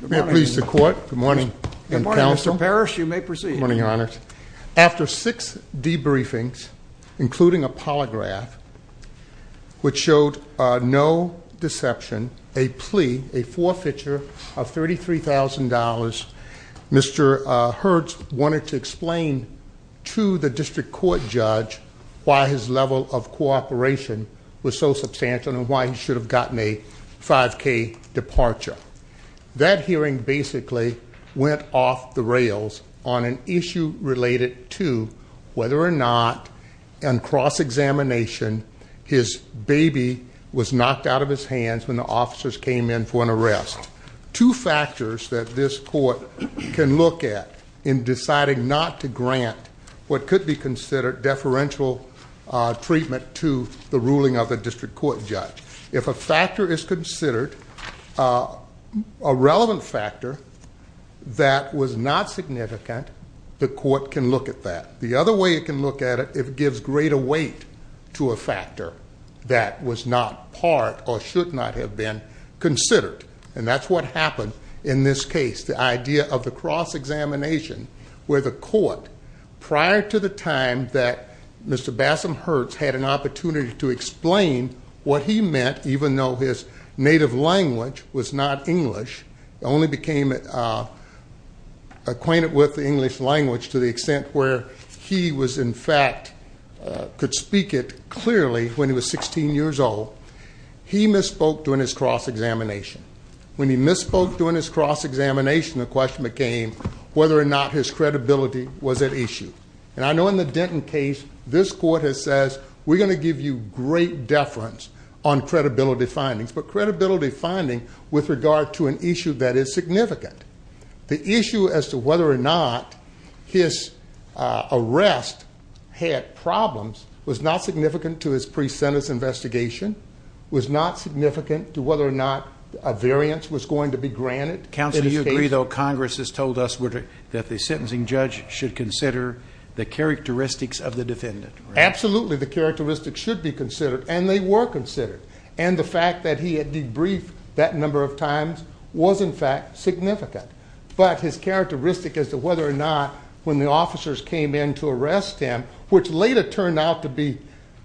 May it please the court. Good morning. Good morning, Mr. Parrish. You may proceed. After six debriefings, including a polygraph, which showed no deception, a plea, a forfeiture of $33,000, Mr. Hertz wanted to explain to the district court judge why his level of cooperation was so substantial and why he should have gotten a $5,000 departure. That hearing basically went off the rails on an issue related to whether or not, in cross-examination, his baby was knocked out of his hands when the officers came in for an arrest. Two factors that this court can look at in deciding not to grant what could be considered deferential treatment to the ruling of the district court judge. If a factor is considered, a relevant factor that was not significant, the court can look at that. The other way it can look at it, it gives greater weight to a factor that was not part or should not have been considered. And that's what happened in this case. The idea of the cross-examination where the court, prior to the time that Mr. Bassam Hertz had an opportunity to explain what he meant, even though his native language was not English, only became acquainted with the English language to the extent where he was, in fact, could speak it clearly when he was 16 years old. He misspoke during his cross-examination. When he misspoke during his cross-examination, the question became whether or not his credibility was at issue. And I know in the Denton case, this court has said, we're going to give you great deference on credibility findings, but credibility finding with regard to an issue that is significant. The issue as to whether or not his arrest had problems was not significant to his pre-sentence investigation, was not significant to whether or not a variance was going to be granted. Counsel, do you agree, though, Congress has told us that the sentencing judge should consider the characteristics of the defendant? Absolutely, the characteristics should be considered, and they were considered. And the fact that he had debriefed that number of times was, in fact, significant. But his characteristic as to whether or not when the officers came in to arrest him, which later turned out to be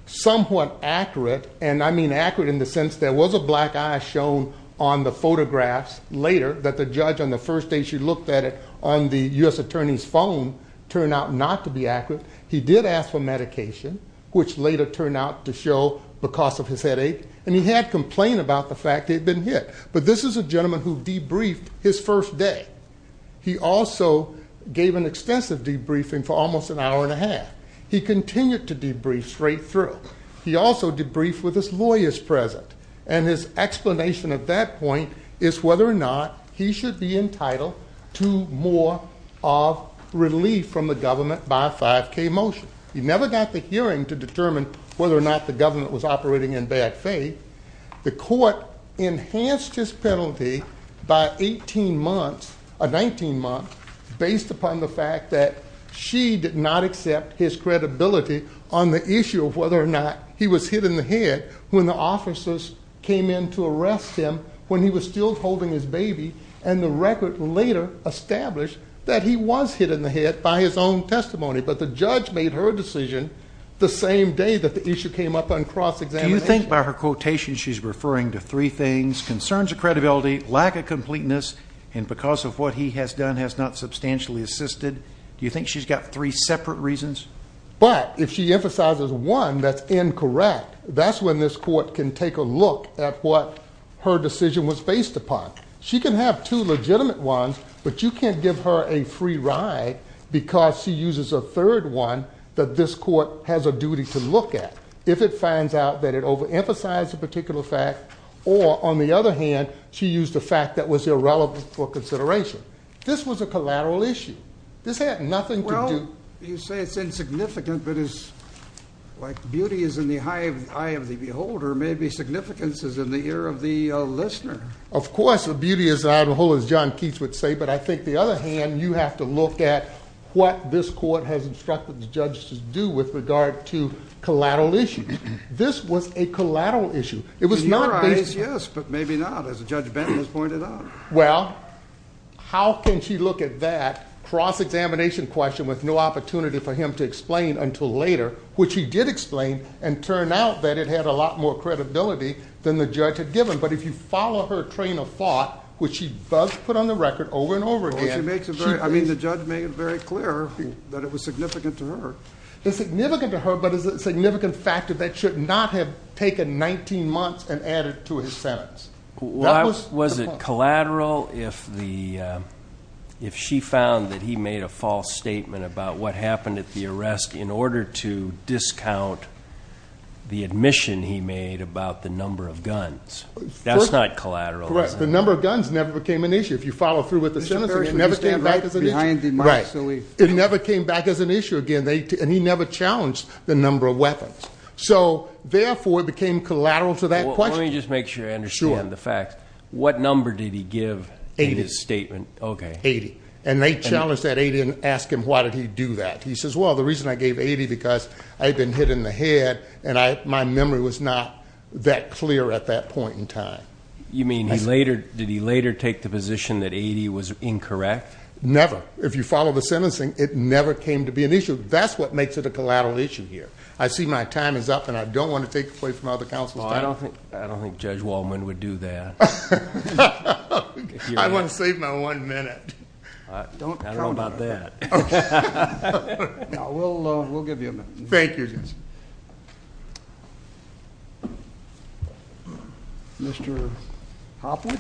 somewhat accurate, and I mean accurate in the sense there was a black eye shown on the photographs later that the judge on the first day she looked at it on the U.S. Attorney's phone, turned out not to be accurate. He did ask for medication, which later turned out to show because of his headache. And he had complained about the fact that he had been hit. But this is a gentleman who debriefed his first day. He also gave an extensive debriefing for almost an hour and a half. He continued to debrief straight through. He also debriefed with his lawyers present. And his explanation of that point is whether or not he should be entitled to more of relief from the government by a 5K motion. He never got the hearing to determine whether or not the government was operating in bad faith. The court enhanced his penalty by 18 months, 19 months, based upon the fact that she did not accept his credibility on the issue of whether or not he was hit in the head when the officers came in to arrest him when he was still holding his baby. And the record later established that he was hit in the head by his own testimony. But the judge made her decision the same day that the issue came up on cross-examination. Do you think by her quotation she's referring to three things, concerns of credibility, lack of completeness, and because of what he has done has not substantially assisted? Do you think she's got three separate reasons? But if she emphasizes one that's incorrect, that's when this court can take a look at what her decision was based upon. She can have two legitimate ones, but you can't give her a free ride because she uses a third one that this court has a duty to look at if it finds out that it overemphasized a particular fact or, on the other hand, she used a fact that was irrelevant for consideration. This was a collateral issue. This had nothing to do – You say it's insignificant, but it's like beauty is in the eye of the beholder. Maybe significance is in the ear of the listener. Of course, the beauty is out of the hole, as John Keats would say. But I think, on the other hand, you have to look at what this court has instructed the judge to do with regard to collateral issues. This was a collateral issue. In your eyes, yes, but maybe not, as Judge Benton has pointed out. Well, how can she look at that cross-examination question with no opportunity for him to explain until later, which he did explain, and it turned out that it had a lot more credibility than the judge had given. But if you follow her train of thought, which she does put on the record over and over again – Well, she makes it very – I mean, the judge made it very clear that it was significant to her. It's significant to her, but it's a significant factor that should not have taken 19 months and added to his sentence. Was it collateral if she found that he made a false statement about what happened at the arrest in order to discount the admission he made about the number of guns? That's not collateral, is it? Correct. The number of guns never became an issue. If you follow through with the sentence, it never came back as an issue. It never came back as an issue again, and he never challenged the number of weapons. So, therefore, it became collateral to that question. Let me just make sure I understand the facts. What number did he give in his statement? Eighty. Okay. Eighty, and they challenged that 80 and asked him why did he do that. He says, well, the reason I gave 80 because I had been hit in the head, and my memory was not that clear at that point in time. You mean he later – did he later take the position that 80 was incorrect? Never. If you follow the sentencing, it never came to be an issue. That's what makes it a collateral issue here. I see my time is up, and I don't want to take away from other counsel's time. I don't think Judge Waldman would do that. I want to save my one minute. I don't know about that. We'll give you a minute. Thank you, Judge. Mr. Hopwood?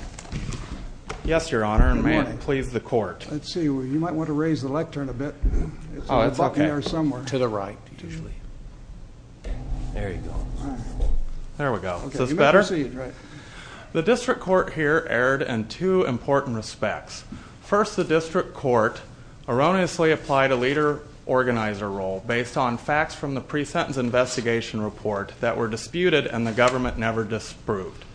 Yes, Your Honor, and may it please the Court. Let's see. You might want to raise the lectern a bit. Oh, that's okay. To the right. There you go. There we go. Is this better? The district court here erred in two important respects. First, the district court erroneously applied a leader-organizer role based on facts from the pre-sentence investigation report that were disputed and the government never disproved.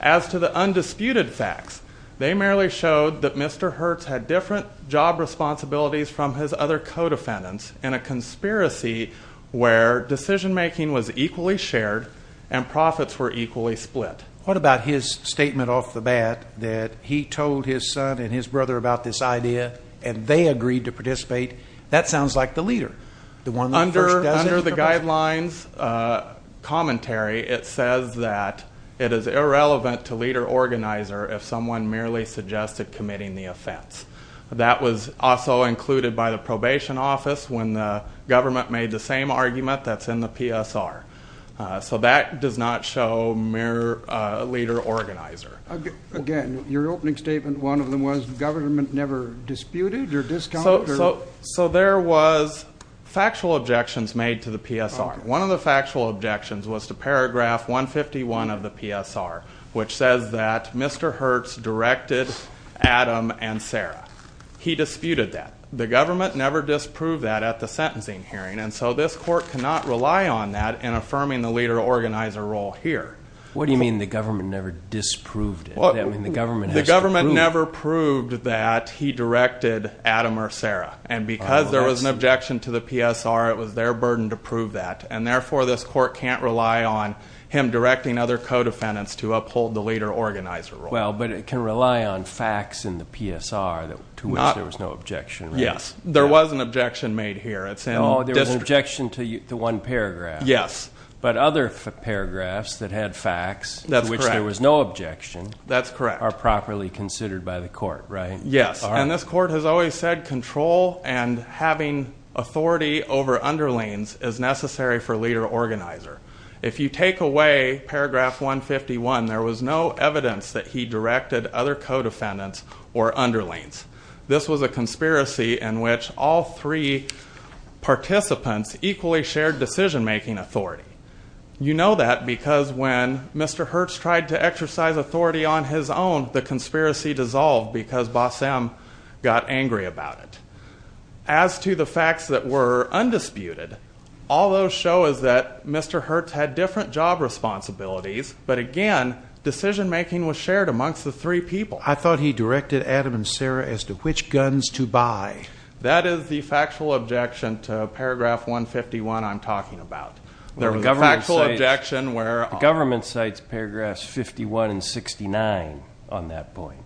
As to the undisputed facts, they merely showed that Mr. Hertz had different job responsibilities from his other co-defendants in a conspiracy where decision-making was equally shared and profits were equally split. What about his statement off the bat that he told his son and his brother about this idea and they agreed to participate? That sounds like the leader. Under the guidelines commentary, it says that it is irrelevant to leader-organizer if someone merely suggested committing the offense. That was also included by the probation office when the government made the same argument that's in the PSR. So that does not show mere leader-organizer. Again, your opening statement, one of them was, the government never disputed or discounted? So there was factual objections made to the PSR. One of the factual objections was to paragraph 151 of the PSR, which says that Mr. Hertz directed Adam and Sarah. He disputed that. The government never disproved that at the sentencing hearing, and so this court cannot rely on that in affirming the leader-organizer role here. What do you mean the government never disproved it? The government never proved that he directed Adam or Sarah, and because there was an objection to the PSR, it was their burden to prove that, and therefore this court can't rely on him directing other co-defendants to uphold the leader-organizer role. Well, but it can rely on facts in the PSR to which there was no objection. Yes. There was an objection made here. Oh, there was an objection to one paragraph. Yes. But other paragraphs that had facts to which there was no objection are properly considered by the court, right? Yes, and this court has always said control and having authority over underlings is necessary for leader-organizer. If you take away paragraph 151, there was no evidence that he directed other co-defendants or underlings. This was a conspiracy in which all three participants equally shared decision-making authority. You know that because when Mr. Hertz tried to exercise authority on his own, the conspiracy dissolved because Bossam got angry about it. As to the facts that were undisputed, all those show is that Mr. Hertz had different job responsibilities, but again decision-making was shared amongst the three people. I thought he directed Adam and Sarah as to which guns to buy. That is the factual objection to paragraph 151 I'm talking about. There was a factual objection where? The government cites paragraphs 51 and 69 on that point.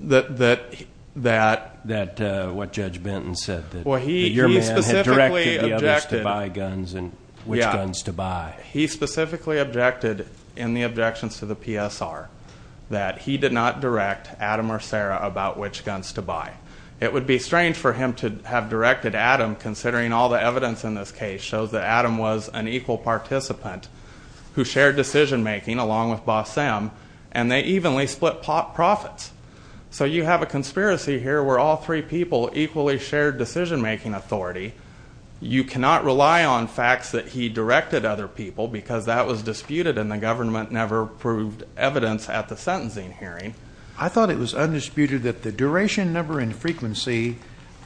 That what Judge Benton said, that your man had directed the others to buy guns and which guns to buy. He specifically objected in the objections to the PSR that he did not direct Adam or Sarah about which guns to buy. It would be strange for him to have directed Adam considering all the evidence in this case shows that Adam was an equal participant who shared decision-making along with Bossam, and they evenly split profits. So you have a conspiracy here where all three people equally shared decision-making authority. You cannot rely on facts that he directed other people because that was disputed and the government never proved evidence at the sentencing hearing. I thought it was undisputed that the duration, number, and frequency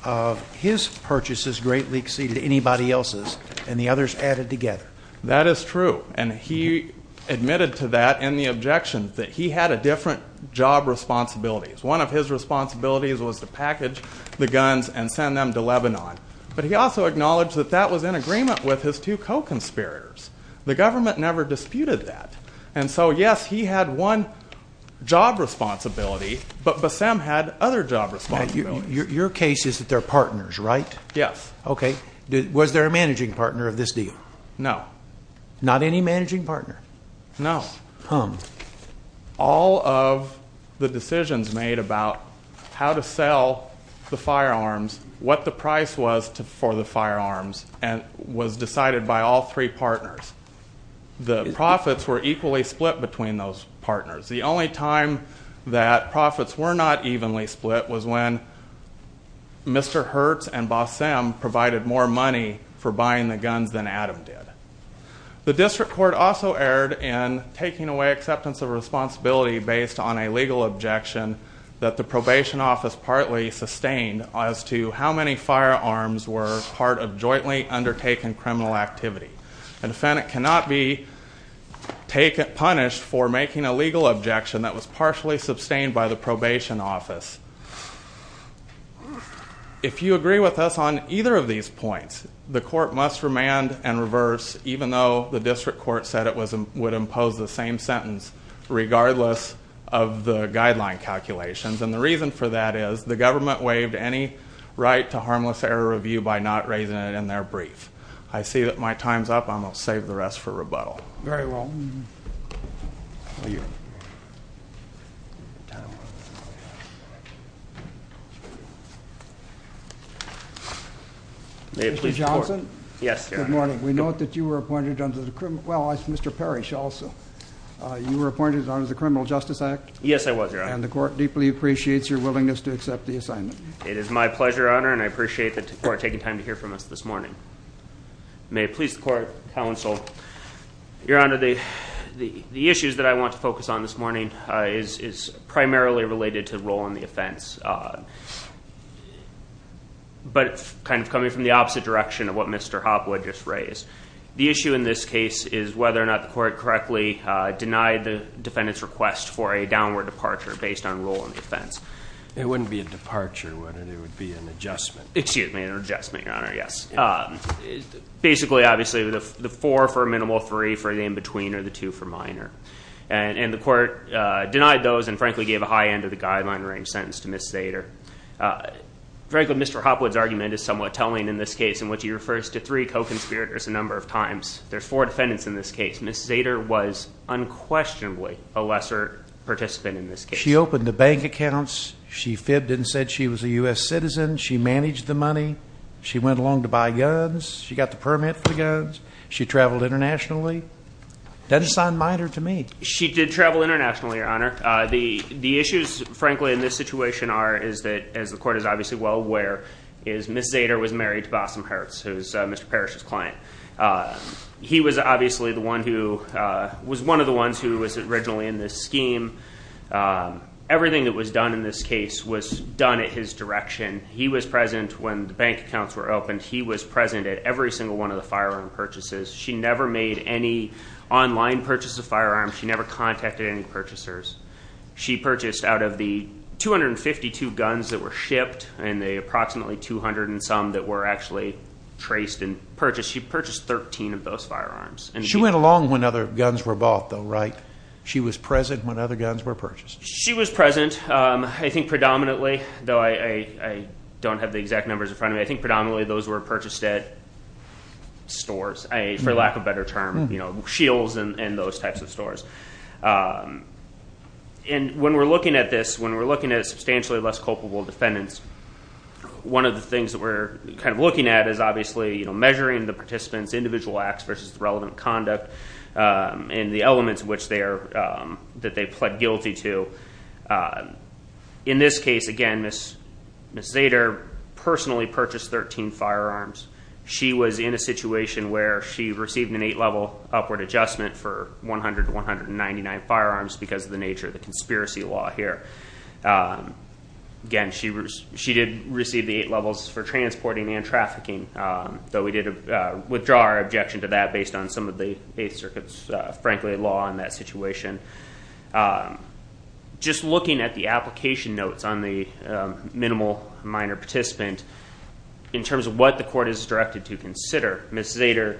of his purchases greatly exceeded anybody else's, and the others added together. That is true, and he admitted to that in the objections that he had a different job responsibilities. One of his responsibilities was to package the guns and send them to Lebanon, but he also acknowledged that that was in agreement with his two co-conspirators. The government never disputed that, and so yes, he had one job responsibility, but Bossam had other job responsibilities. Your case is that they're partners, right? Yes. Was there a managing partner of this deal? No. Not any managing partner? No. All of the decisions made about how to sell the firearms, what the price was for the firearms, was decided by all three partners. The profits were equally split between those partners. The only time that profits were not evenly split was when Mr. Hertz and Bossam provided more money for buying the guns than Adam did. The district court also erred in taking away acceptance of responsibility based on a legal objection that the probation office partly sustained as to how many firearms were part of jointly undertaken criminal activity. A defendant cannot be punished for making a legal objection that was partially sustained by the probation office. If you agree with us on either of these points, the court must remand and reverse, even though the district court said it would impose the same sentence regardless of the guideline calculations, and the reason for that is the government waived any right to harmless error review by not raising it in their brief. I see that my time's up. I'm going to save the rest for rebuttal. Very well. Thank you. Mr. Johnson? Yes, Your Honor. Good morning. We note that you were appointed under the criminal justice act. Yes, I was, Your Honor. And the court deeply appreciates your willingness to accept the assignment. It is my pleasure, Your Honor, and I appreciate the court taking time to hear from us this morning. May it please the court, counsel. Your Honor, the issues that I want to focus on this morning is primarily related to role in the offense, but kind of coming from the opposite direction of what Mr. Hopwood just raised. The issue in this case is whether or not the court correctly denied the defendant's request for a downward departure based on role in the offense. It wouldn't be a departure, would it? It would be an adjustment. Excuse me, an adjustment, Your Honor, yes. Basically, obviously, the four for minimal, three for the in-between, or the two for minor. And the court denied those and frankly gave a high end of the guideline range sentence to Ms. Sater. Frankly, Mr. Hopwood's argument is somewhat telling in this case in which he refers to three co-conspirators a number of times. There's four defendants in this case. Ms. Sater was unquestionably a lesser participant in this case. She opened the bank accounts. She fibbed and said she was a U.S. citizen. She managed the money. She went along to buy guns. She got the permit for the guns. She traveled internationally. Doesn't sound minor to me. She did travel internationally, Your Honor. The issues, frankly, in this situation are, as the court is obviously well aware, is Ms. Sater was married to Bossom Hertz, who is Mr. Parrish's client. He was obviously the one who was one of the ones who was originally in this scheme. Everything that was done in this case was done at his direction. He was present when the bank accounts were opened. He was present at every single one of the firearm purchases. She never made any online purchases of firearms. She never contacted any purchasers. She purchased out of the 252 guns that were shipped and the approximately 200 and some that were actually traced and purchased, she purchased 13 of those firearms. She went along when other guns were bought, though, right? She was present when other guns were purchased. She was present, I think, predominantly, though I don't have the exact numbers in front of me. I think predominantly those were purchased at stores, for lack of a better term, you know, shields and those types of stores. When we're looking at this, when we're looking at substantially less culpable defendants, one of the things that we're kind of looking at is obviously measuring the participants' individual acts versus the relevant conduct and the elements that they pled guilty to. In this case, again, Ms. Zader personally purchased 13 firearms. She was in a situation where she received an eight-level upward adjustment for 100 to 199 firearms because of the nature of the conspiracy law here. Again, she did receive the eight levels for transporting and trafficking, though we did withdraw our objection to that based on some of the Eighth Circuit's, frankly, law in that situation. Just looking at the application notes on the minimal minor participant, in terms of what the court is directed to consider, Ms. Zader,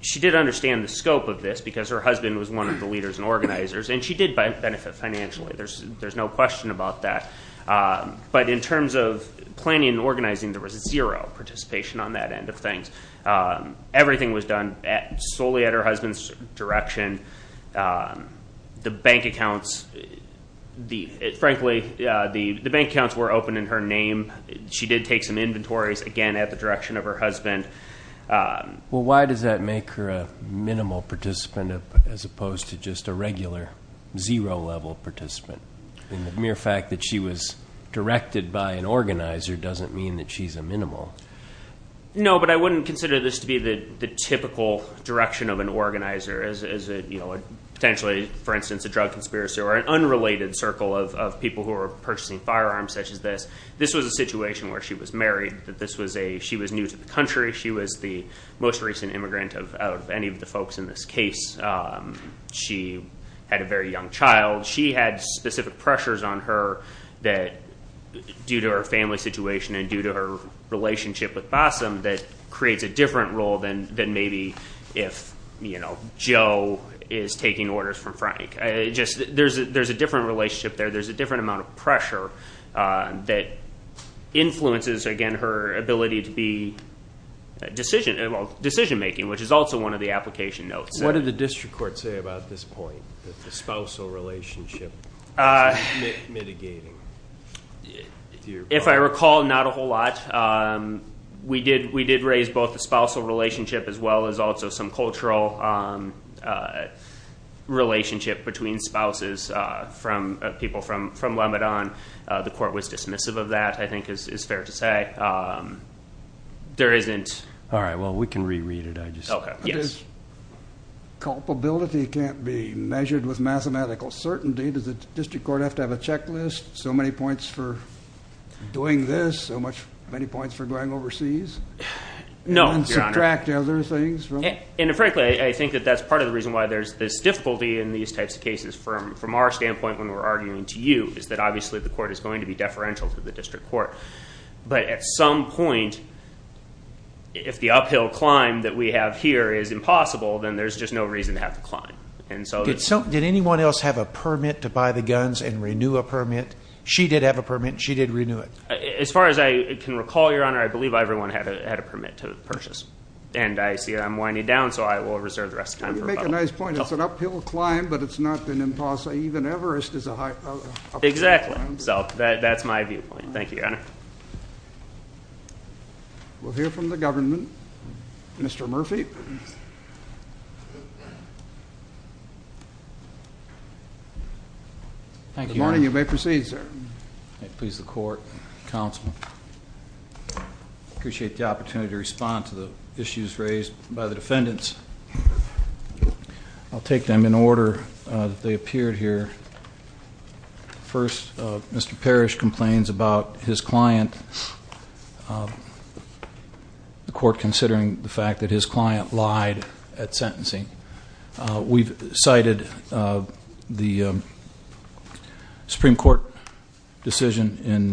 she did understand the scope of this because her husband was one of the leaders and organizers, and she did benefit financially. There's no question about that. But in terms of planning and organizing, there was zero participation on that end of things. Everything was done solely at her husband's direction. The bank accounts, frankly, the bank accounts were open in her name. She did take some inventories, again, at the direction of her husband. Well, why does that make her a minimal participant as opposed to just a regular zero-level participant? I mean, the mere fact that she was directed by an organizer doesn't mean that she's a minimal. No, but I wouldn't consider this to be the typical direction of an organizer as, you know, potentially, for instance, a drug conspiracy or an unrelated circle of people who are purchasing firearms such as this. This was a situation where she was married, that this was a she was new to the country. She was the most recent immigrant of any of the folks in this case. She had a very young child. She had specific pressures on her that, due to her family situation and due to her relationship with Bossom, that creates a different role than maybe if, you know, Joe is taking orders from Frank. There's a different relationship there. There's a different amount of pressure that influences, again, her ability to be decision-making, which is also one of the application notes. What did the district court say about this point, that the spousal relationship is mitigating? If I recall, not a whole lot. We did raise both the spousal relationship as well as also some cultural relationship between spouses, people from Lebanon. The court was dismissive of that, I think is fair to say. All right, well, we can reread it. Culpability can't be measured with mathematical certainty. Does the district court have to have a checklist? So many points for doing this, so many points for going overseas? No, Your Honor. And subtract other things from it? And frankly, I think that that's part of the reason why there's this difficulty in these types of cases from our standpoint when we're arguing to you, is that obviously the court is going to be deferential to the district court. But at some point, if the uphill climb that we have here is impossible, then there's just no reason to have to climb. Did anyone else have a permit to buy the guns and renew a permit? She did have a permit. She did renew it. As far as I can recall, Your Honor, I believe everyone had a permit to purchase. And I see I'm winding down, so I will reserve the rest of the time for rebuttal. You make a nice point. It's an uphill climb, but it's not an impossible. Even Everest is an uphill climb. Exactly. So that's my viewpoint. Thank you, Your Honor. We'll hear from the government. Mr. Murphy. Good morning. You may proceed, sir. Please, the court, counsel. Appreciate the opportunity to respond to the issues raised by the defendants. I'll take them in order that they appeared here. First, Mr. Parrish complains about his client, the court considering the fact that his client lied at sentencing. We've cited the Supreme Court decision in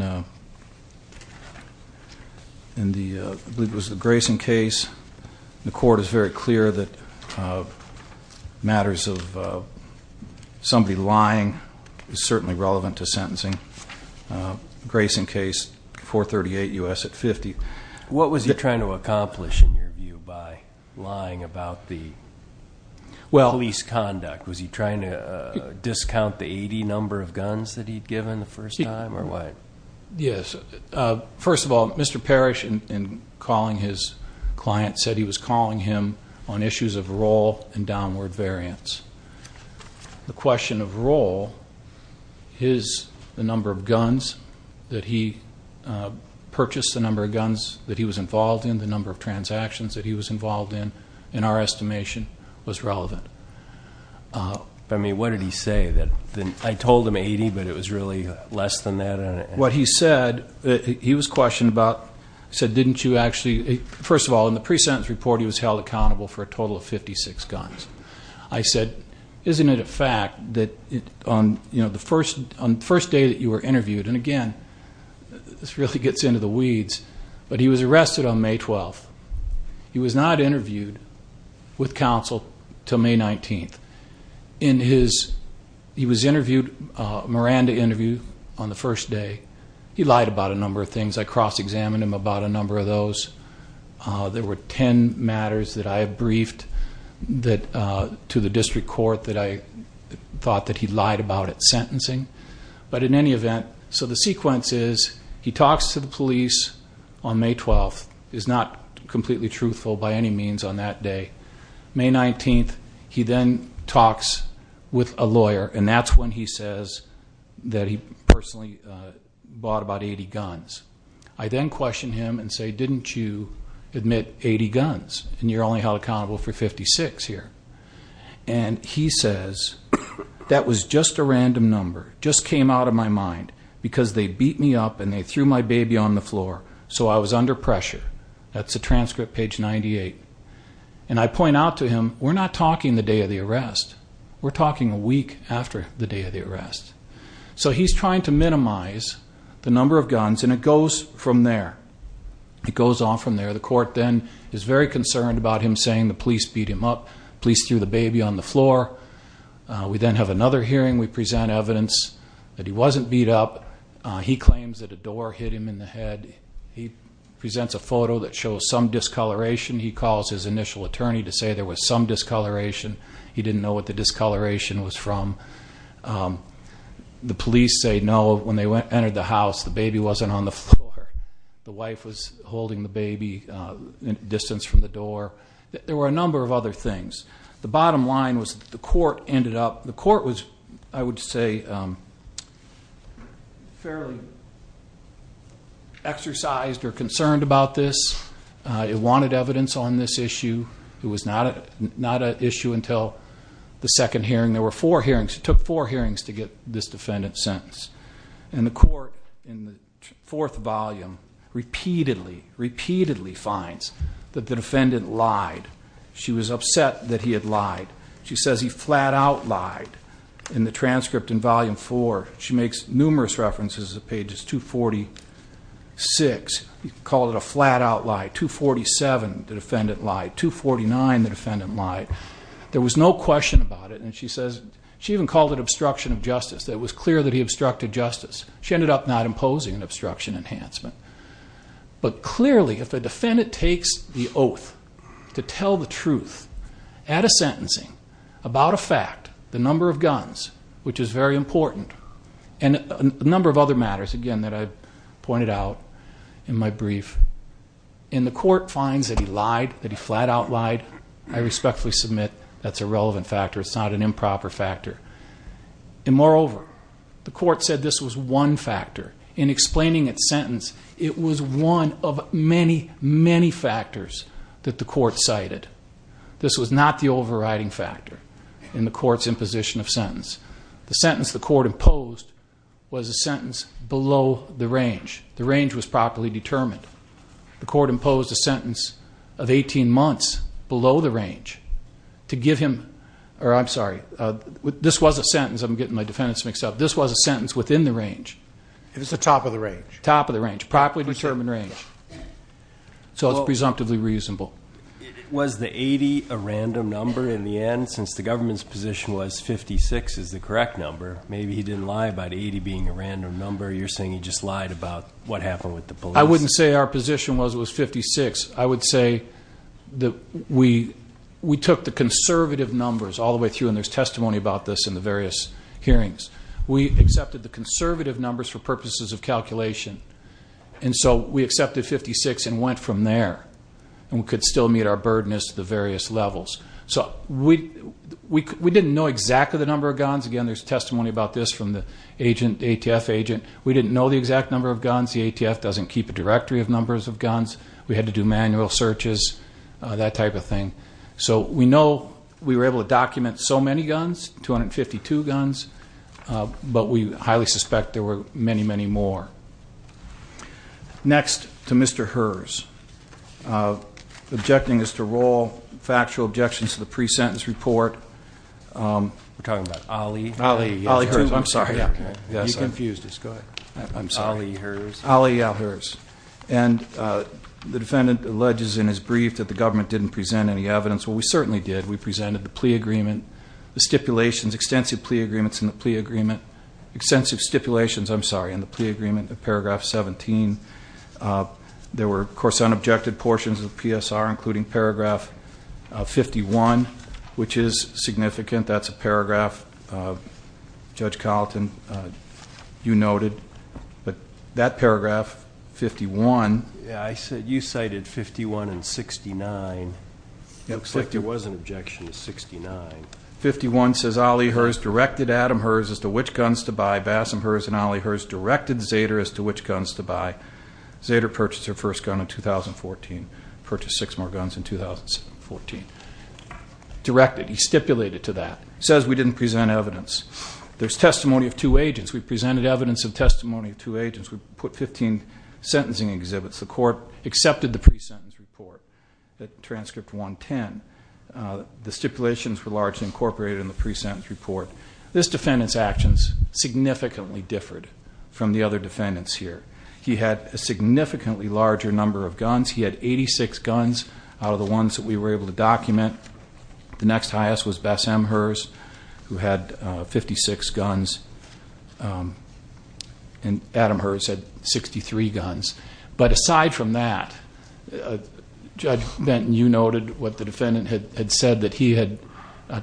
the, I believe it was the Grayson case. The court is very clear that matters of somebody lying is certainly relevant to sentencing. Grayson case, 438 U.S. at 50. What was he trying to accomplish, in your view, by lying about the police conduct? Was he trying to discount the 80 number of guns that he'd given the first time, or what? Yes. First of all, Mr. Parrish, in calling his client, said he was calling him on issues of roll and downward variance. The question of roll is the number of guns that he purchased, the number of guns that he was involved in, the number of transactions that he was involved in, in our estimation, was relevant. I mean, what did he say? I told him 80, but it was really less than that? What he said, he was questioned about, he said, didn't you actually, first of all, in the pre-sentence report he was held accountable for a total of 56 guns. I said, isn't it a fact that on the first day that you were interviewed, and again, this really gets into the weeds, but he was arrested on May 12th. He was not interviewed with counsel until May 19th. He was interviewed, a Miranda interview, on the first day. He lied about a number of things. I cross-examined him about a number of those. There were 10 matters that I briefed to the district court that I thought that he lied about at sentencing. But in any event, so the sequence is, he talks to the police on May 12th, is not completely truthful by any means on that day. May 19th, he then talks with a lawyer, and that's when he says that he personally bought about 80 guns. I then question him and say, didn't you admit 80 guns, and you're only held accountable for 56 here? And he says, that was just a random number, just came out of my mind, because they beat me up and they threw my baby on the floor, so I was under pressure. That's the transcript, page 98. And I point out to him, we're not talking the day of the arrest. We're talking a week after the day of the arrest. So he's trying to minimize the number of guns, and it goes from there. It goes on from there. The court then is very concerned about him saying the police beat him up. Police threw the baby on the floor. We then have another hearing. We present evidence that he wasn't beat up. He claims that a door hit him in the head. He presents a photo that shows some discoloration. He calls his initial attorney to say there was some discoloration. He didn't know what the discoloration was from. The police say, no, when they entered the house, the baby wasn't on the floor. The wife was holding the baby at a distance from the door. There were a number of other things. The bottom line was the court ended up, the court was, I would say, fairly exercised or concerned about this. It wanted evidence on this issue. It was not an issue until the second hearing. There were four hearings. It took four hearings to get this defendant sentenced. And the court, in the fourth volume, repeatedly, repeatedly finds that the defendant lied. She was upset that he had lied. She says he flat-out lied. In the transcript in volume four, she makes numerous references to pages 246. You can call it a flat-out lie. 247, the defendant lied. 249, the defendant lied. There was no question about it. And she says, she even called it obstruction of justice. It was clear that he obstructed justice. She ended up not imposing an obstruction enhancement. But clearly, if a defendant takes the oath to tell the truth at a sentencing about a fact, the number of guns, which is very important, and a number of other matters, again, that I pointed out in my brief. And the court finds that he lied, that he flat-out lied. I respectfully submit that's a relevant factor. It's not an improper factor. And moreover, the court said this was one factor. In explaining its sentence, it was one of many, many factors that the court cited. This was not the overriding factor in the court's imposition of sentence. The sentence the court imposed was a sentence below the range. The range was properly determined. The court imposed a sentence of 18 months below the range to give him, or I'm sorry, this was a sentence, I'm getting my defendants mixed up, this was a sentence within the range. It was the top of the range. Top of the range. Properly determined range. So it's presumptively reasonable. Was the 80 a random number in the end, since the government's position was 56 is the correct number? Maybe he didn't lie about 80 being a random number. You're saying he just lied about what happened with the police. I wouldn't say our position was it was 56. I would say that we took the conservative numbers all the way through, and there's testimony about this in the various hearings. We accepted the conservative numbers for purposes of calculation. And so we accepted 56 and went from there. And we could still meet our burden as to the various levels. So we didn't know exactly the number of guns. Again, there's testimony about this from the ATF agent. We didn't know the exact number of guns. The ATF doesn't keep a directory of numbers of guns. We had to do manual searches, that type of thing. So we know we were able to document so many guns, 252 guns, but we highly suspect there were many, many more. Next, to Mr. Herz, objecting us to roll factual objections to the pre-sentence report. We're talking about Ali? Ali Herz. I'm sorry. You confused us. Go ahead. I'm sorry. Ali Herz. Ali Herz. And the defendant alleges in his brief that the government didn't present any evidence. Well, we certainly did. We presented the plea agreement, the stipulations, extensive plea agreements in the plea agreement. Extensive stipulations, I'm sorry, in the plea agreement in paragraph 17. There were, of course, unobjected portions of the PSR, including paragraph 51, which is significant. That's a paragraph, Judge Carlton, you noted. But that paragraph, 51. Yeah, you cited 51 and 69. It looks like there was an objection to 69. 51 says, Ali Herz directed Adam Herz as to which guns to buy. Zader purchased her first gun in 2014. Purchased six more guns in 2014. Directed, he stipulated to that. Says we didn't present evidence. There's testimony of two agents. We presented evidence of testimony of two agents. We put 15 sentencing exhibits. The court accepted the pre-sentence report, transcript 110. The stipulations were largely incorporated in the pre-sentence report. This defendant's actions significantly differed from the other defendants here. He had a significantly larger number of guns. He had 86 guns out of the ones that we were able to document. The next highest was Bess M. Herz, who had 56 guns. And Adam Herz had 63 guns. But aside from that, Judge Benton, you noted what the defendant had said, that he had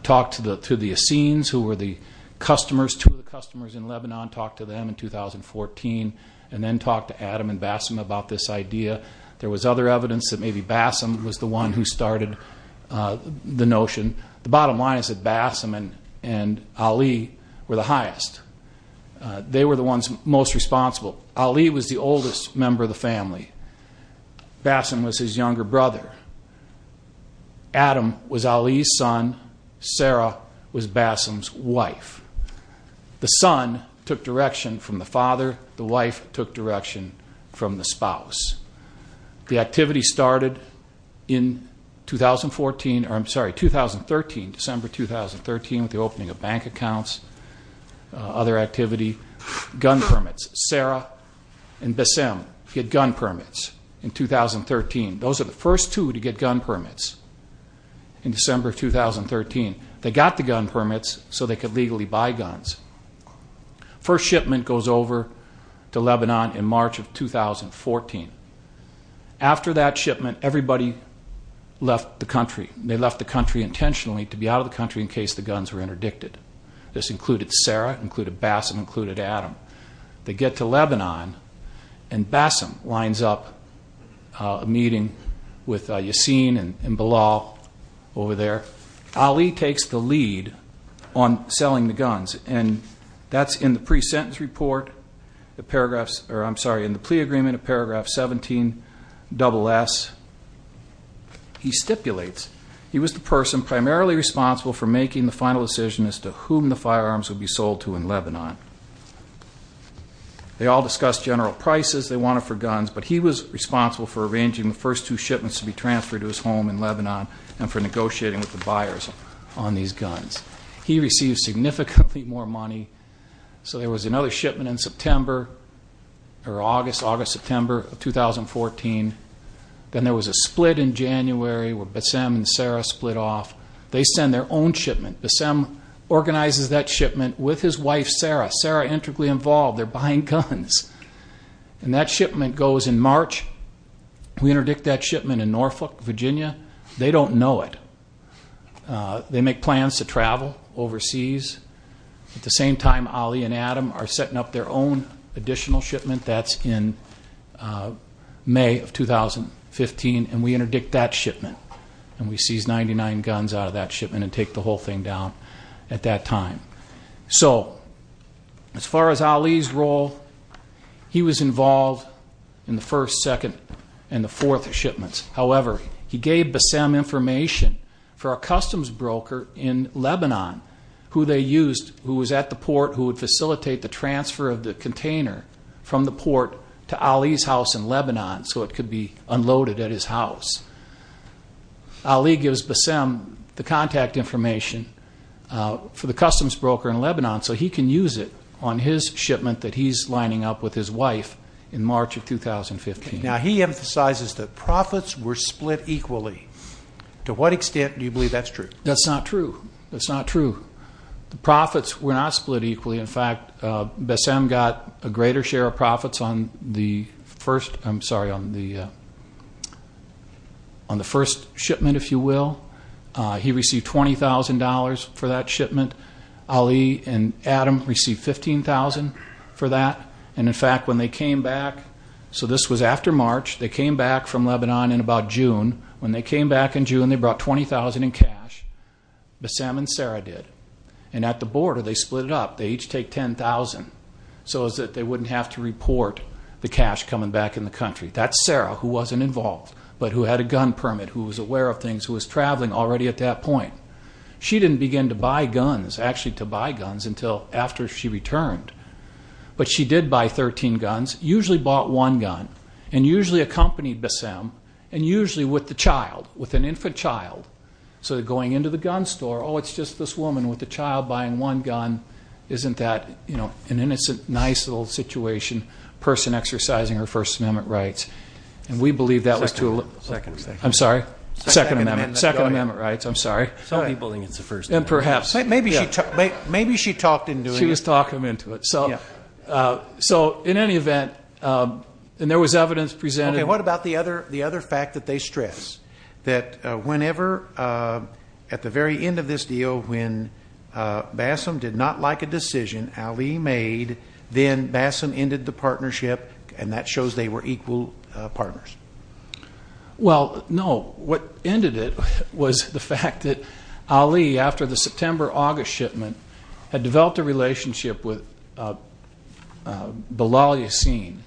talked to the Essenes, who were the customers. Two of the customers in Lebanon talked to them in 2014. And then talked to Adam and Bess M. about this idea. There was other evidence that maybe Bess M. was the one who started the notion. The bottom line is that Bess M. and Ali were the highest. They were the ones most responsible. Ali was the oldest member of the family. Bess M. was his younger brother. Adam was Ali's son. Sarah was Bess M.'s wife. The son took direction from the father. The wife took direction from the spouse. The activity started in 2013, December 2013, with the opening of bank accounts, other activity, gun permits. Sarah and Bess M. get gun permits in 2013. Those are the first two to get gun permits in December 2013. They got the gun permits so they could legally buy guns. First shipment goes over to Lebanon in March of 2014. After that shipment, everybody left the country. They left the country intentionally to be out of the country in case the guns were interdicted. This included Sarah, included Bess M., included Adam. They get to Lebanon, and Bess M. lines up a meeting with Yassin and Bilal over there. Ali takes the lead on selling the guns, and that's in the plea agreement of paragraph 17, double S. He stipulates he was the person primarily responsible for making the final decision as to whom the firearms would be sold to in Lebanon. They all discussed general prices, they wanted for guns, but he was responsible for arranging the first two shipments to be transferred to his home in Lebanon and for negotiating with the buyers on these guns. He received significantly more money. So there was another shipment in September or August, August-September of 2014. Then there was a split in January where Bess M. and Sarah split off. They send their own shipment. Bess M. organizes that shipment with his wife Sarah. Sarah intricately involved, they're buying guns. And that shipment goes in March. We interdict that shipment in Norfolk, Virginia. They don't know it. They make plans to travel overseas. At the same time, Ali and Adam are setting up their own additional shipment. That's in May of 2015, and we interdict that shipment. And we seize 99 guns out of that shipment and take the whole thing down at that time. So as far as Ali's role, he was involved in the first, second, and the fourth shipments. However, he gave Bess M. information for a customs broker in Lebanon who they used, who was at the port who would facilitate the transfer of the container from the port to Ali's house in Lebanon so it could be unloaded at his house. Ali gives Bess M. the contact information for the customs broker in Lebanon so he can use it on his shipment that he's lining up with his wife in March of 2015. Now, he emphasizes that profits were split equally. To what extent do you believe that's true? That's not true. That's not true. The profits were not split equally. In fact, Bess M. got a greater share of profits on the first shipment, if you will. He received $20,000 for that shipment. Ali and Adam received $15,000 for that. And, in fact, when they came back, so this was after March, they came back from Lebanon in about June. When they came back in June, they brought $20,000 in cash. Bess M. and Sarah did. And at the border, they split it up. They each take $10,000 so that they wouldn't have to report the cash coming back in the country. That's Sarah who wasn't involved but who had a gun permit, who was aware of things, who was traveling already at that point. She didn't begin to buy guns, actually to buy guns, until after she returned. But she did buy 13 guns, usually bought one gun, and usually accompanied Bess M., and usually with the child, with an infant child. So going into the gun store, oh, it's just this woman with a child buying one gun. Isn't that, you know, an innocent, nice little situation, person exercising her First Amendment rights? And we believe that was true. Second Amendment. I'm sorry? Second Amendment. Second Amendment rights. I'm sorry. Some people think it's the First Amendment. And perhaps. Maybe she talked him into it. So in any event, and there was evidence presented. Okay, what about the other fact that they stress? That whenever, at the very end of this deal, when Bess M. did not like a decision Ali made, then Bess M. ended the partnership, and that shows they were equal partners. Well, no, what ended it was the fact that Ali, after the September-August shipment, had developed a relationship with Bilal Yassin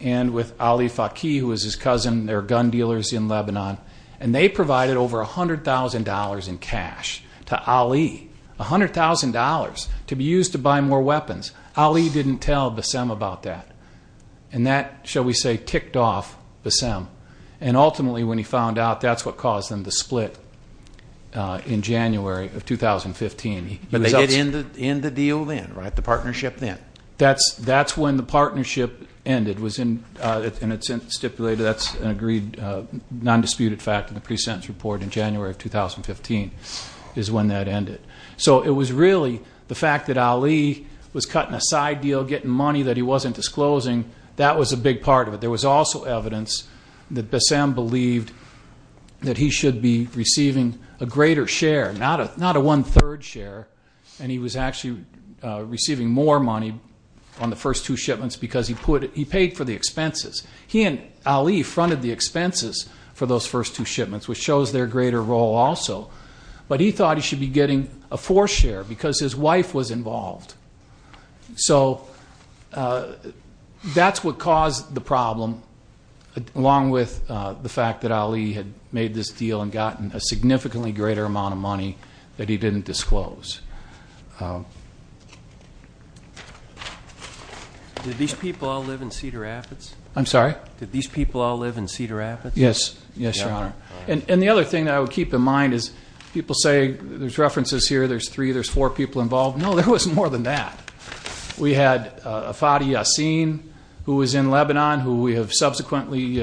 and with Ali Faki, who was his cousin. They're gun dealers in Lebanon. And they provided over $100,000 in cash to Ali, $100,000 to be used to buy more weapons. Ali didn't tell Bess M. about that. And that, shall we say, ticked off Bess M. And ultimately, when he found out, that's what caused them to split in January of 2015. But they did end the deal then, right? The partnership then? That's when the partnership ended. And it's stipulated that's an agreed, non-disputed fact in the pre-sentence report in January of 2015 is when that ended. So it was really the fact that Ali was cutting a side deal, getting money that he wasn't disclosing, that was a big part of it. There was also evidence that Bess M. believed that he should be receiving a greater share, not a one-third share. And he was actually receiving more money on the first two shipments because he paid for the expenses. He and Ali fronted the expenses for those first two shipments, which shows their greater role also. But he thought he should be getting a fourth share because his wife was involved. So that's what caused the problem, along with the fact that Ali had made this deal and gotten a significantly greater amount of money that he didn't disclose. Did these people all live in Cedar Rapids? I'm sorry? Did these people all live in Cedar Rapids? Yes, Your Honor. And the other thing that I would keep in mind is people say there's references here, there's three, there's four people involved. No, there was more than that. We had Fadi Yassin, who was in Lebanon, who we have subsequently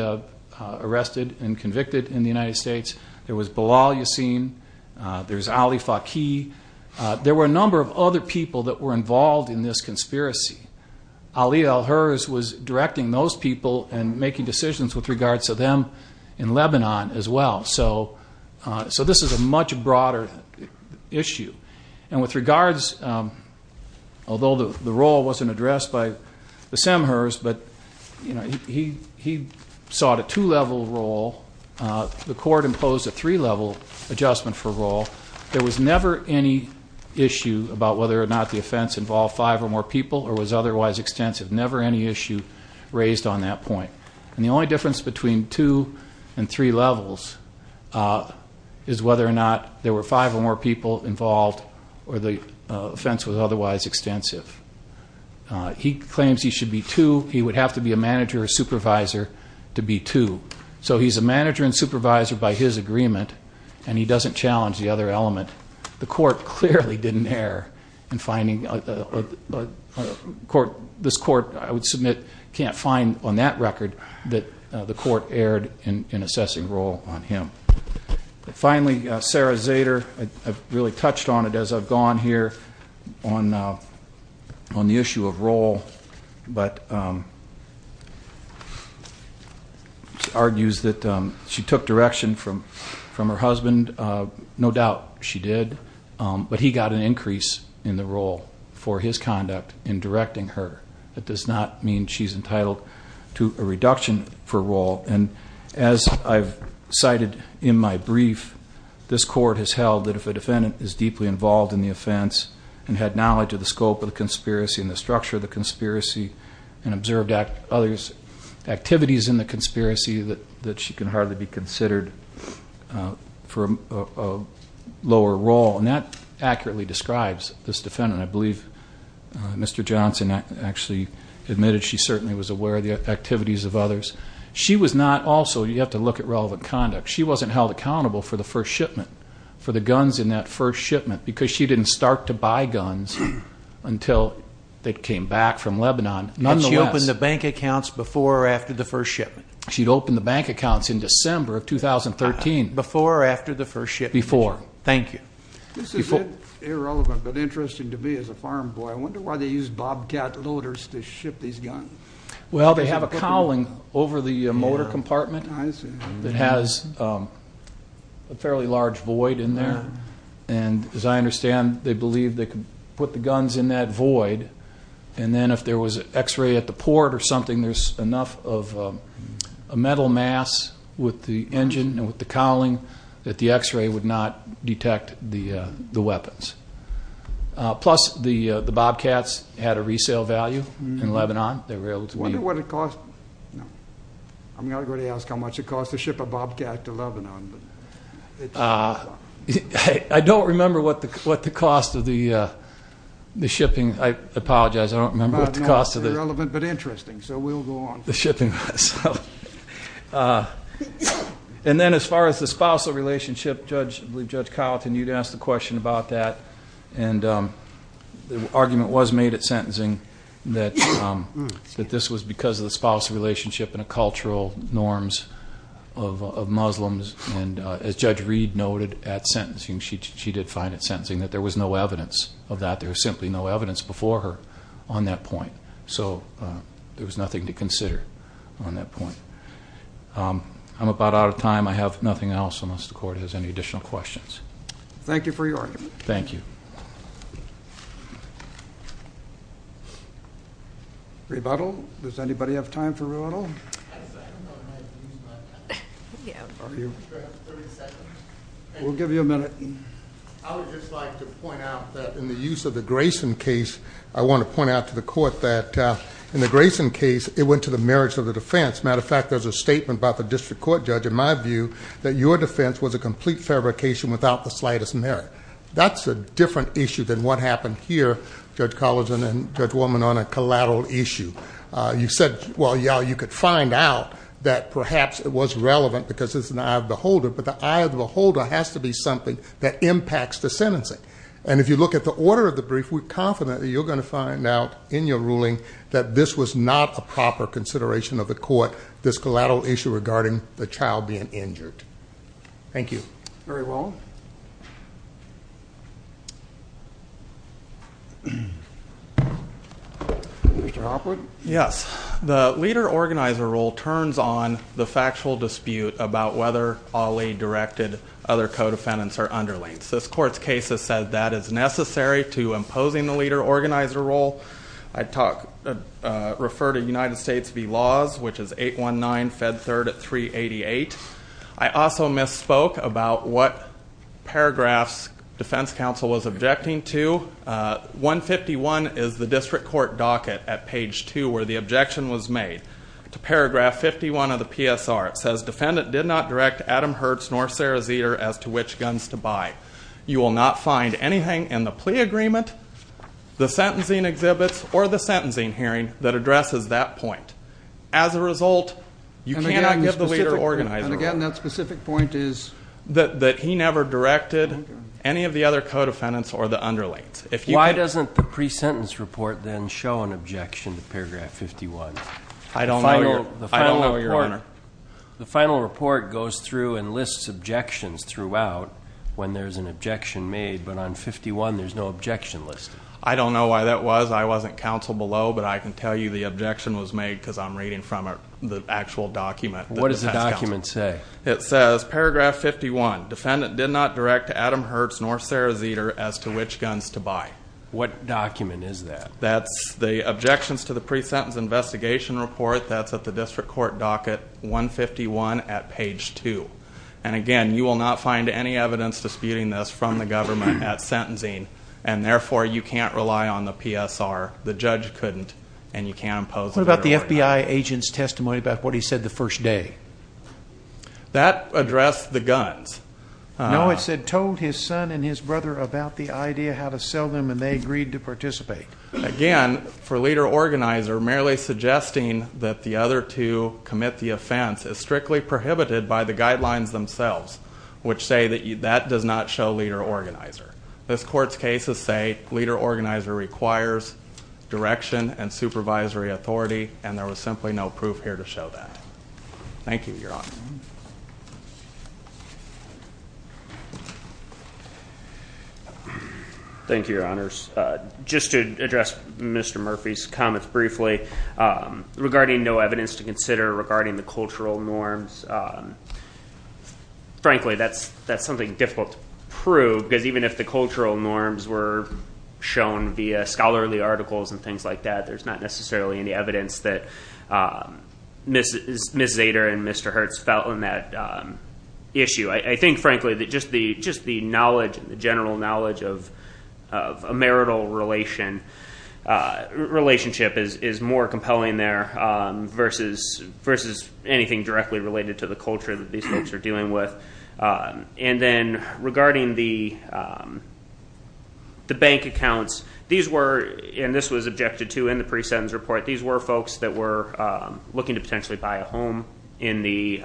arrested and convicted in the United States. There was Bilal Yassin. There's Ali Faki. There were a number of other people that were involved in this conspiracy. Ali al-Hurs was directing those people and making decisions with regards to them in Lebanon as well. So this is a much broader issue. And with regards, although the role wasn't addressed by the Semhurs, but he sought a two-level role. The court imposed a three-level adjustment for role. There was never any issue about whether or not the offense involved five or more people or was otherwise extensive. Never any issue raised on that point. And the only difference between two and three levels is whether or not there were five or more people involved or the offense was otherwise extensive. He claims he should be two. He would have to be a manager or supervisor to be two. So he's a manager and supervisor by his agreement, and he doesn't challenge the other element. The court clearly didn't err in finding a court. This court, I would submit, can't find on that record that the court erred in assessing role on him. Finally, Sarah Zader, I've really touched on it as I've gone here on the issue of role, but argues that she took direction from her husband. No doubt she did, but he got an increase in the role for his conduct in directing her. That does not mean she's entitled to a reduction for role. And as I've cited in my brief, this court has held that if a defendant is deeply involved in the offense and had knowledge of the scope of the conspiracy and the structure of the conspiracy and observed others' activities in the conspiracy, that she can hardly be considered for a lower role. And that accurately describes this defendant. I believe Mr. Johnson actually admitted she certainly was aware of the activities of others. She was not also, you have to look at relevant conduct, she wasn't held accountable for the first shipment, for the guns in that first shipment, because she didn't start to buy guns until they came back from Lebanon. And she opened the bank accounts before or after the first shipment? She opened the bank accounts in December of 2013. Before or after the first shipment? Before. Thank you. This is irrelevant but interesting to me as a farm boy. I wonder why they use Bobcat loaders to ship these guns. Well, they have a cowling over the motor compartment that has a fairly large void in there. And as I understand, they believe they can put the guns in that void, and then if there was an X-ray at the port or something, there's enough of a metal mass with the engine and with the cowling that the X-ray would not detect the weapons. Plus, the Bobcats had a resale value in Lebanon. I wonder what it cost. I'm not going to ask how much it cost to ship a Bobcat to Lebanon. I don't remember what the cost of the shipping, I apologize, I don't remember. Irrelevant but interesting, so we'll go on. The shipping cost. And then as far as the spousal relationship, I believe Judge Carlton, you'd asked a question about that, and the argument was made at sentencing that this was because of the spousal relationship and the cultural norms of Muslims. And as Judge Reed noted at sentencing, she did find at sentencing that there was no evidence of that. There was simply no evidence before her on that point. So there was nothing to consider on that point. I'm about out of time. I have nothing else unless the Court has any additional questions. Thank you for your argument. Thank you. Rebuttal? Does anybody have time for rebuttal? We'll give you a minute. I would just like to point out that in the use of the Grayson case, I want to point out to the Court that in the Grayson case, it went to the merits of the defense. As a matter of fact, there's a statement by the district court judge, in my view, that your defense was a complete fabrication without the slightest merit. That's a different issue than what happened here, Judge Carleton and Judge Woolman, on a collateral issue. You said, well, yeah, you could find out that perhaps it was relevant because it's an eye of the beholder, but the eye of the beholder has to be something that impacts the sentencing. And if you look at the order of the brief, we're confident that you're going to find out in your ruling that this was not a proper consideration of the Court, this collateral issue regarding the child being injured. Thank you. Very well. Mr. Hopwood? Yes. The leader-organizer rule turns on the factual dispute about whether OLLI-directed other co-defendants are underlings. This Court's case has said that is necessary to imposing the leader-organizer rule. I'd refer to United States v. Laws, which is 819, Fed 3rd at 388. I also misspoke about what paragraphs defense counsel was objecting to. 151 is the district court docket at page 2 where the objection was made. To paragraph 51 of the PSR, it says defendant did not direct Adam Hertz nor Sarah Zeder as to which guns to buy. You will not find anything in the plea agreement, the sentencing exhibits, or the sentencing hearing that addresses that point. As a result, you cannot give the leader-organizer rule. That he never directed any of the other co-defendants or the underlings. Why doesn't the pre-sentence report then show an objection to paragraph 51? I don't know, Your Honor. The final report goes through and lists objections throughout when there's an objection made, but on 51 there's no objection listed. I don't know why that was. I wasn't counsel below, but I can tell you the objection was made because I'm reading from the actual document. What does the document say? It says paragraph 51, defendant did not direct Adam Hertz nor Sarah Zeder as to which guns to buy. What document is that? That's the objections to the pre-sentence investigation report. That's at the district court docket 151 at page 2. And again, you will not find any evidence disputing this from the government at sentencing. And therefore, you can't rely on the PSR. The judge couldn't. What about the FBI agent's testimony about what he said the first day? That addressed the guns. No, it said told his son and his brother about the idea, how to sell them, and they agreed to participate. Again, for leader-organizer, merely suggesting that the other two commit the offense is strictly prohibited by the guidelines themselves, which say that that does not show leader-organizer. This court's cases say leader-organizer requires direction and supervisory authority, and there was simply no proof here to show that. Thank you, Your Honors. Thank you, Your Honors. Just to address Mr. Murphy's comments briefly, regarding no evidence to consider regarding the cultural norms, frankly, that's something difficult to prove because even if the cultural norms were shown via scholarly articles and things like that, there's not necessarily any evidence that Ms. Zader and Mr. Hertz felt on that issue. I think, frankly, that just the knowledge, the general knowledge of a marital relationship is more compelling there versus anything directly related to the culture that these folks are dealing with. And then regarding the bank accounts, these were, and this was objected to in the pre-sentence report, these were folks that were looking to potentially buy a home in the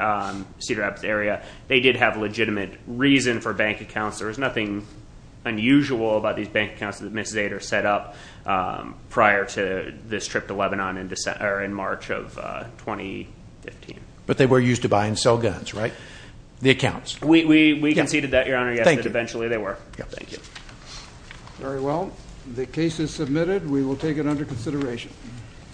Cedar Rapids area. They did have legitimate reason for bank accounts. There was nothing unusual about these bank accounts that Ms. Zader set up prior to this trip to Lebanon in March of 2015. But they were used to buy and sell guns, right? The accounts. We conceded that, Your Honor, yes, but eventually they were. Thank you. Very well. The case is submitted. We will take it under consideration.